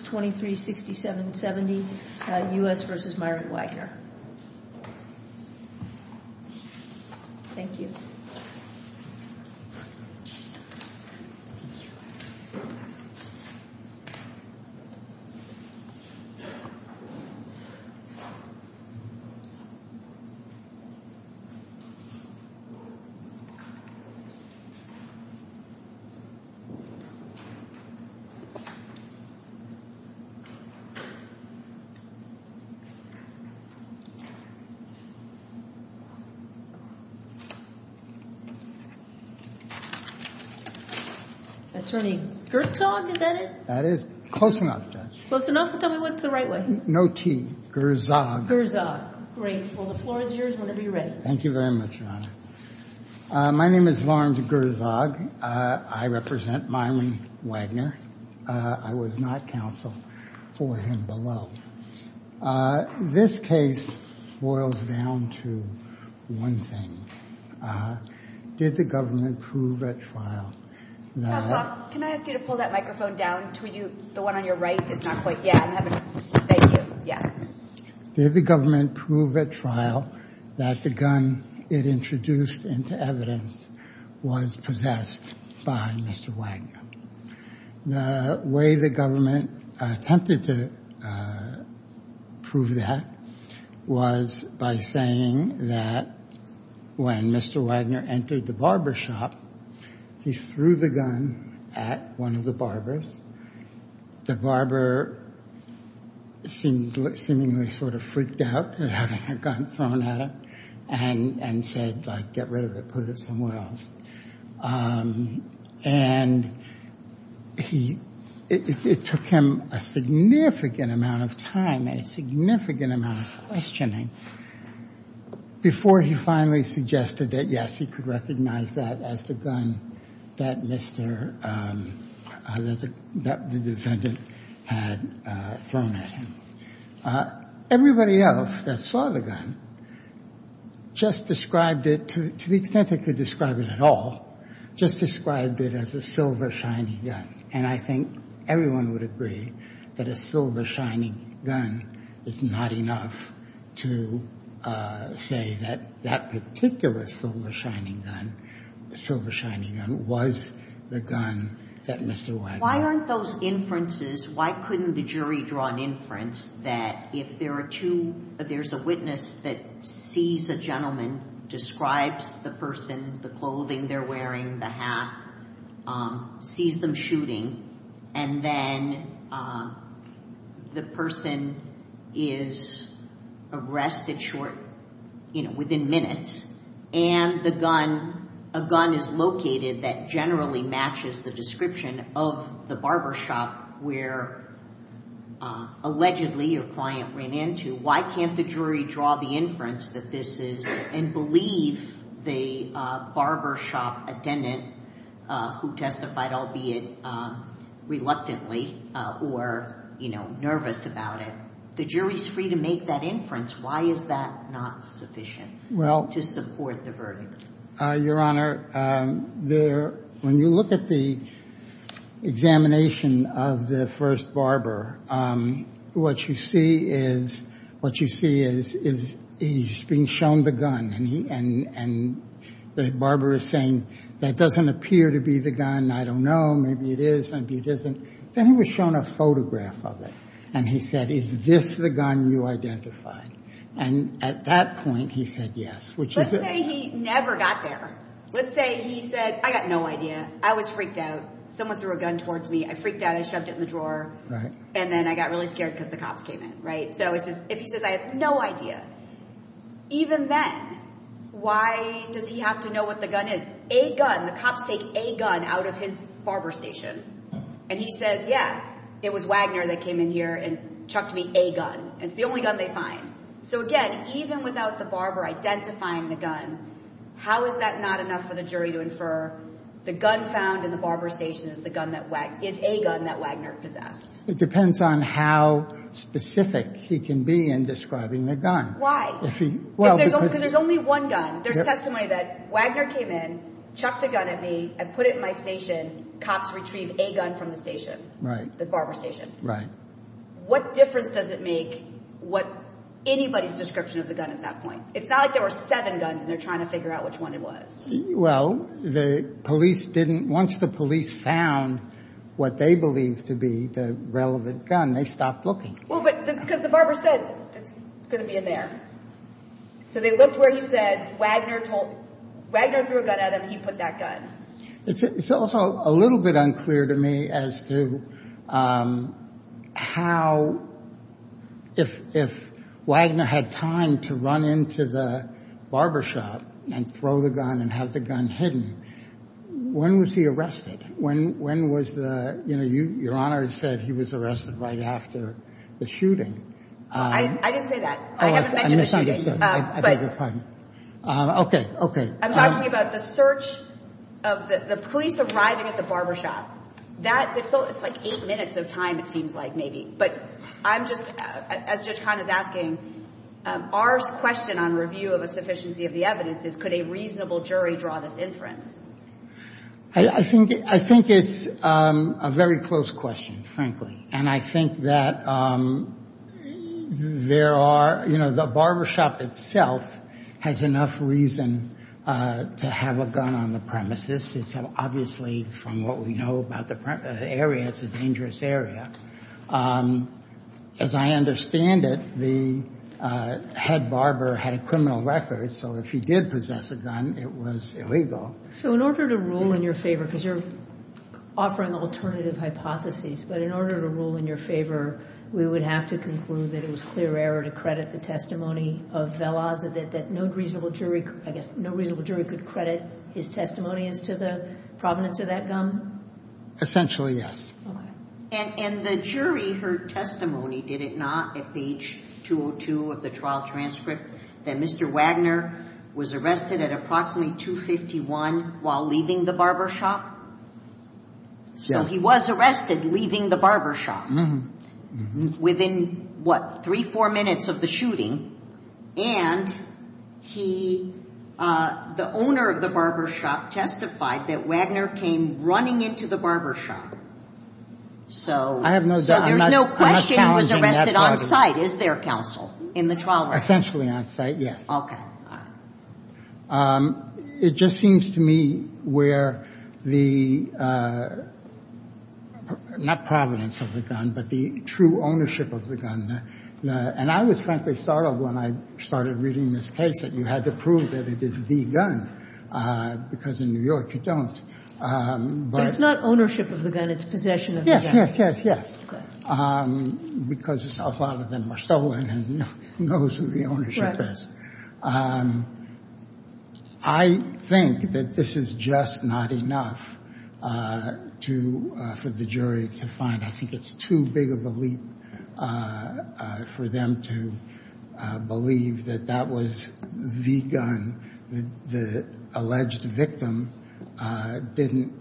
236770, U.S. v. Myron Wagner. Attorney Gertzog, is that it? That is close enough, Judge. Close enough? Tell me what's the right way. No T. Gertzog. Gertzog. Great. Well, the floor is yours whenever you're ready. Thank you very much, Your Honor. My name is Lawrence Gertzog. I represent Myron Wagner. I was not counsel for him below. This case boils down to one thing. Did the government prove at trial that... Tom Falk, can I ask you to pull that microphone down to you? The one on your right is not quite... Yeah, I'm having... Thank you. Yeah. Did the government prove at trial that the gun it introduced into evidence was possessed by Mr. Wagner? The way the government attempted to prove that was by saying that when Mr. Wagner entered the barber shop, he threw the gun at one of the barbers. The barber seemingly sort of freaked out at having a gun thrown at him and said, like, get rid of it, put it somewhere else. And it took him a significant amount of time and a significant amount of questioning before he finally suggested that, yes, he could recognize that as the gun that the defendant had thrown at him. Everybody else that saw the gun just described it, to the extent they could describe it at all, just described it as a silver shining gun. And I think everyone would agree that a silver shining gun is not enough to say that that particular silver shining gun was the gun that Mr. Wagner... There's a witness that sees a gentleman, describes the person, the clothing they're wearing, the hat, sees them shooting, and then the person is arrested within minutes, and a gun is located that generally matches the description of the barber shop where allegedly your client ran into. Why can't the jury draw the inference that this is and believe the barber shop attendant who testified, albeit reluctantly or nervous about it? The jury's free to make that inference. Why is that not sufficient to support the verdict? Your Honor, when you look at the examination of the first barber, what you see is he's being shown the gun, and the barber is saying that doesn't appear to be the gun. I don't know. Maybe it is. Maybe it isn't. Then he was shown a photograph of it, and he said, is this the gun you identified? And at that point he said yes, which is... Let's say he never got there. Let's say he said, I got no idea. I was freaked out. Someone threw a gun towards me. I freaked out. I shoved it in the drawer. And then I got really scared because the cops came in. So if he says I have no idea, even then, why does he have to know what the gun is? A gun. The cops take a gun out of his barber station, and he says, yeah, it was Wagner that came in here and chucked me a gun. It's the only gun they find. So, again, even without the barber identifying the gun, how is that not enough for the jury to infer the gun found in the barber station is a gun that Wagner possessed? It depends on how specific he can be in describing the gun. Why? Because there's only one gun. There's testimony that Wagner came in, chucked a gun at me, I put it in my station. Cops retrieve a gun from the station, the barber station. Right. What difference does it make what anybody's description of the gun at that point? It's not like there were seven guns, and they're trying to figure out which one it was. Well, the police didn't. Once the police found what they believed to be the relevant gun, they stopped looking. Well, because the barber said it's going to be in there. So they looked where he said. Wagner threw a gun at him. He put that gun. It's also a little bit unclear to me as to how, if Wagner had time to run into the barber shop and throw the gun and have the gun hidden, when was he arrested? When was the, you know, Your Honor said he was arrested right after the shooting. I didn't say that. Oh, I misunderstood. I beg your pardon. Okay, okay. I'm talking about the search of the police arriving at the barber shop. It's like eight minutes of time, it seems like, maybe. But I'm just, as Judge Kahn is asking, our question on review of a sufficiency of the evidence is could a reasonable jury draw this inference? I think it's a very close question, frankly. And I think that there are, you know, the barber shop itself has enough reason to have a gun on the premises. It's obviously, from what we know about the area, it's a dangerous area. As I understand it, the head barber had a criminal record, so if he did possess a gun, it was illegal. So in order to rule in your favor, because you're offering alternative hypotheses, but in order to rule in your favor, we would have to conclude that it was clear error to credit the testimony of Velazquez, that no reasonable jury could credit his testimony as to the provenance of that gun? Essentially, yes. Okay. And the jury, her testimony, did it not, at page 202 of the trial transcript, that Mr. Wagner was arrested at approximately 251 while leaving the barber shop? Yes. So he was arrested leaving the barber shop within, what, three, four minutes of the shooting? And he, the owner of the barber shop testified that Wagner came running into the barber shop. So there's no question he was arrested on site, is there, counsel, in the trial record? Essentially on site, yes. Okay. It just seems to me where the, not provenance of the gun, but the true ownership of the gun, and I was frankly startled when I started reading this case that you had to prove that it is the gun, because in New York you don't. But it's not ownership of the gun, it's possession of the gun. Yes, yes, yes, yes. Because a lot of them are stolen and who knows who the ownership is. I think that this is just not enough to, for the jury to find. I think it's too big of a leap for them to believe that that was the gun. The alleged victim didn't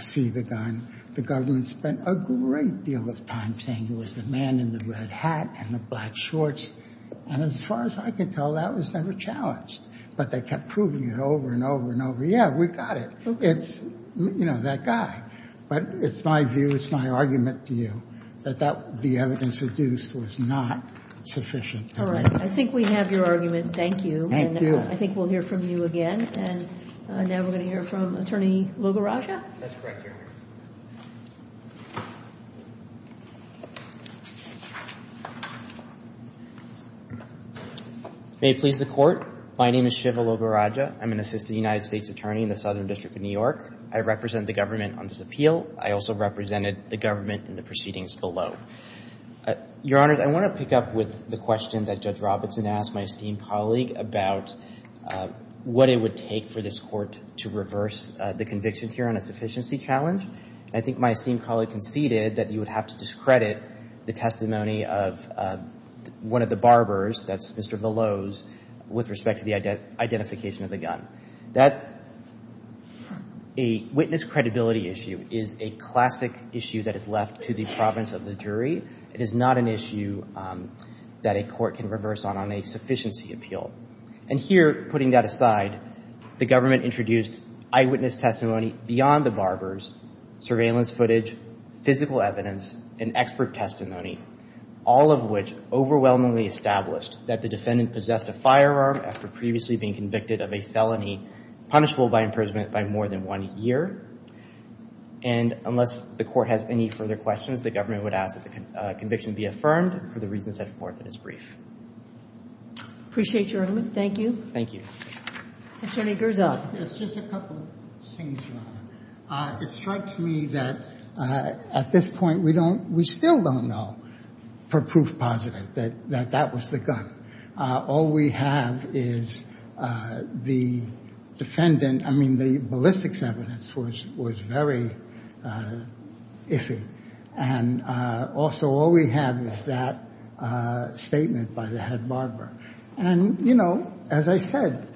see the gun. The government spent a great deal of time saying it was the man in the red hat and the black shorts. And as far as I could tell, that was never challenged. But they kept proving it over and over and over. Yeah, we got it. It's, you know, that guy. But it's my view, it's my argument to you, that the evidence reduced was not sufficient. All right. I think we have your argument. Thank you. Thank you. And I think we'll hear from you again. And now we're going to hear from Attorney Lugaraja. That's correct, Your Honor. May it please the Court. My name is Shiva Lugaraja. I'm an assistant United States attorney in the Southern District of New York. I represent the government on this appeal. I also represented the government in the proceedings below. Your Honors, I want to pick up with the question that Judge Robinson asked my esteemed colleague about what it would take for this court to reverse the conviction here on a sufficiency challenge. I think my esteemed colleague conceded that you would have to discredit the testimony of one of the barbers, that's Mr. Veloz, with respect to the identification of the gun. That witness credibility issue is a classic issue that is left to the province of the jury. It is not an issue that a court can reverse on on a sufficiency appeal. And here, putting that aside, the government introduced eyewitness testimony beyond the barbers, surveillance footage, physical evidence, and expert testimony, all of which overwhelmingly established that the defendant possessed a firearm after previously being convicted of a felony punishable by imprisonment by more than one year. And unless the court has any further questions, the government would ask that the conviction be affirmed for the reasons set forth in its brief. Appreciate your argument. Thank you. Thank you. Attorney Garza. It's just a couple of things, Your Honor. It strikes me that at this point we don't, we still don't know for proof positive that that was the gun. All we have is the defendant, I mean, the ballistics evidence was very iffy. And also all we have is that statement by the head barber. And, you know, as I said,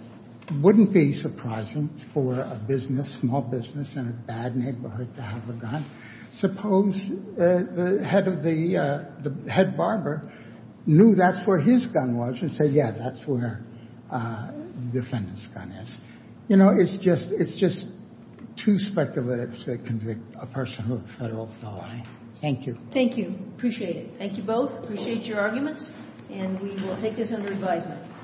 wouldn't be surprising for a business, small business in a bad neighborhood to have a gun. Suppose the head barber knew that's where his gun was and said, yeah, that's where the defendant's gun is. You know, it's just too speculative to convict a person of a federal felony. Thank you. Thank you. Appreciate it. Thank you both. Appreciate your arguments. And we will take this under advisement.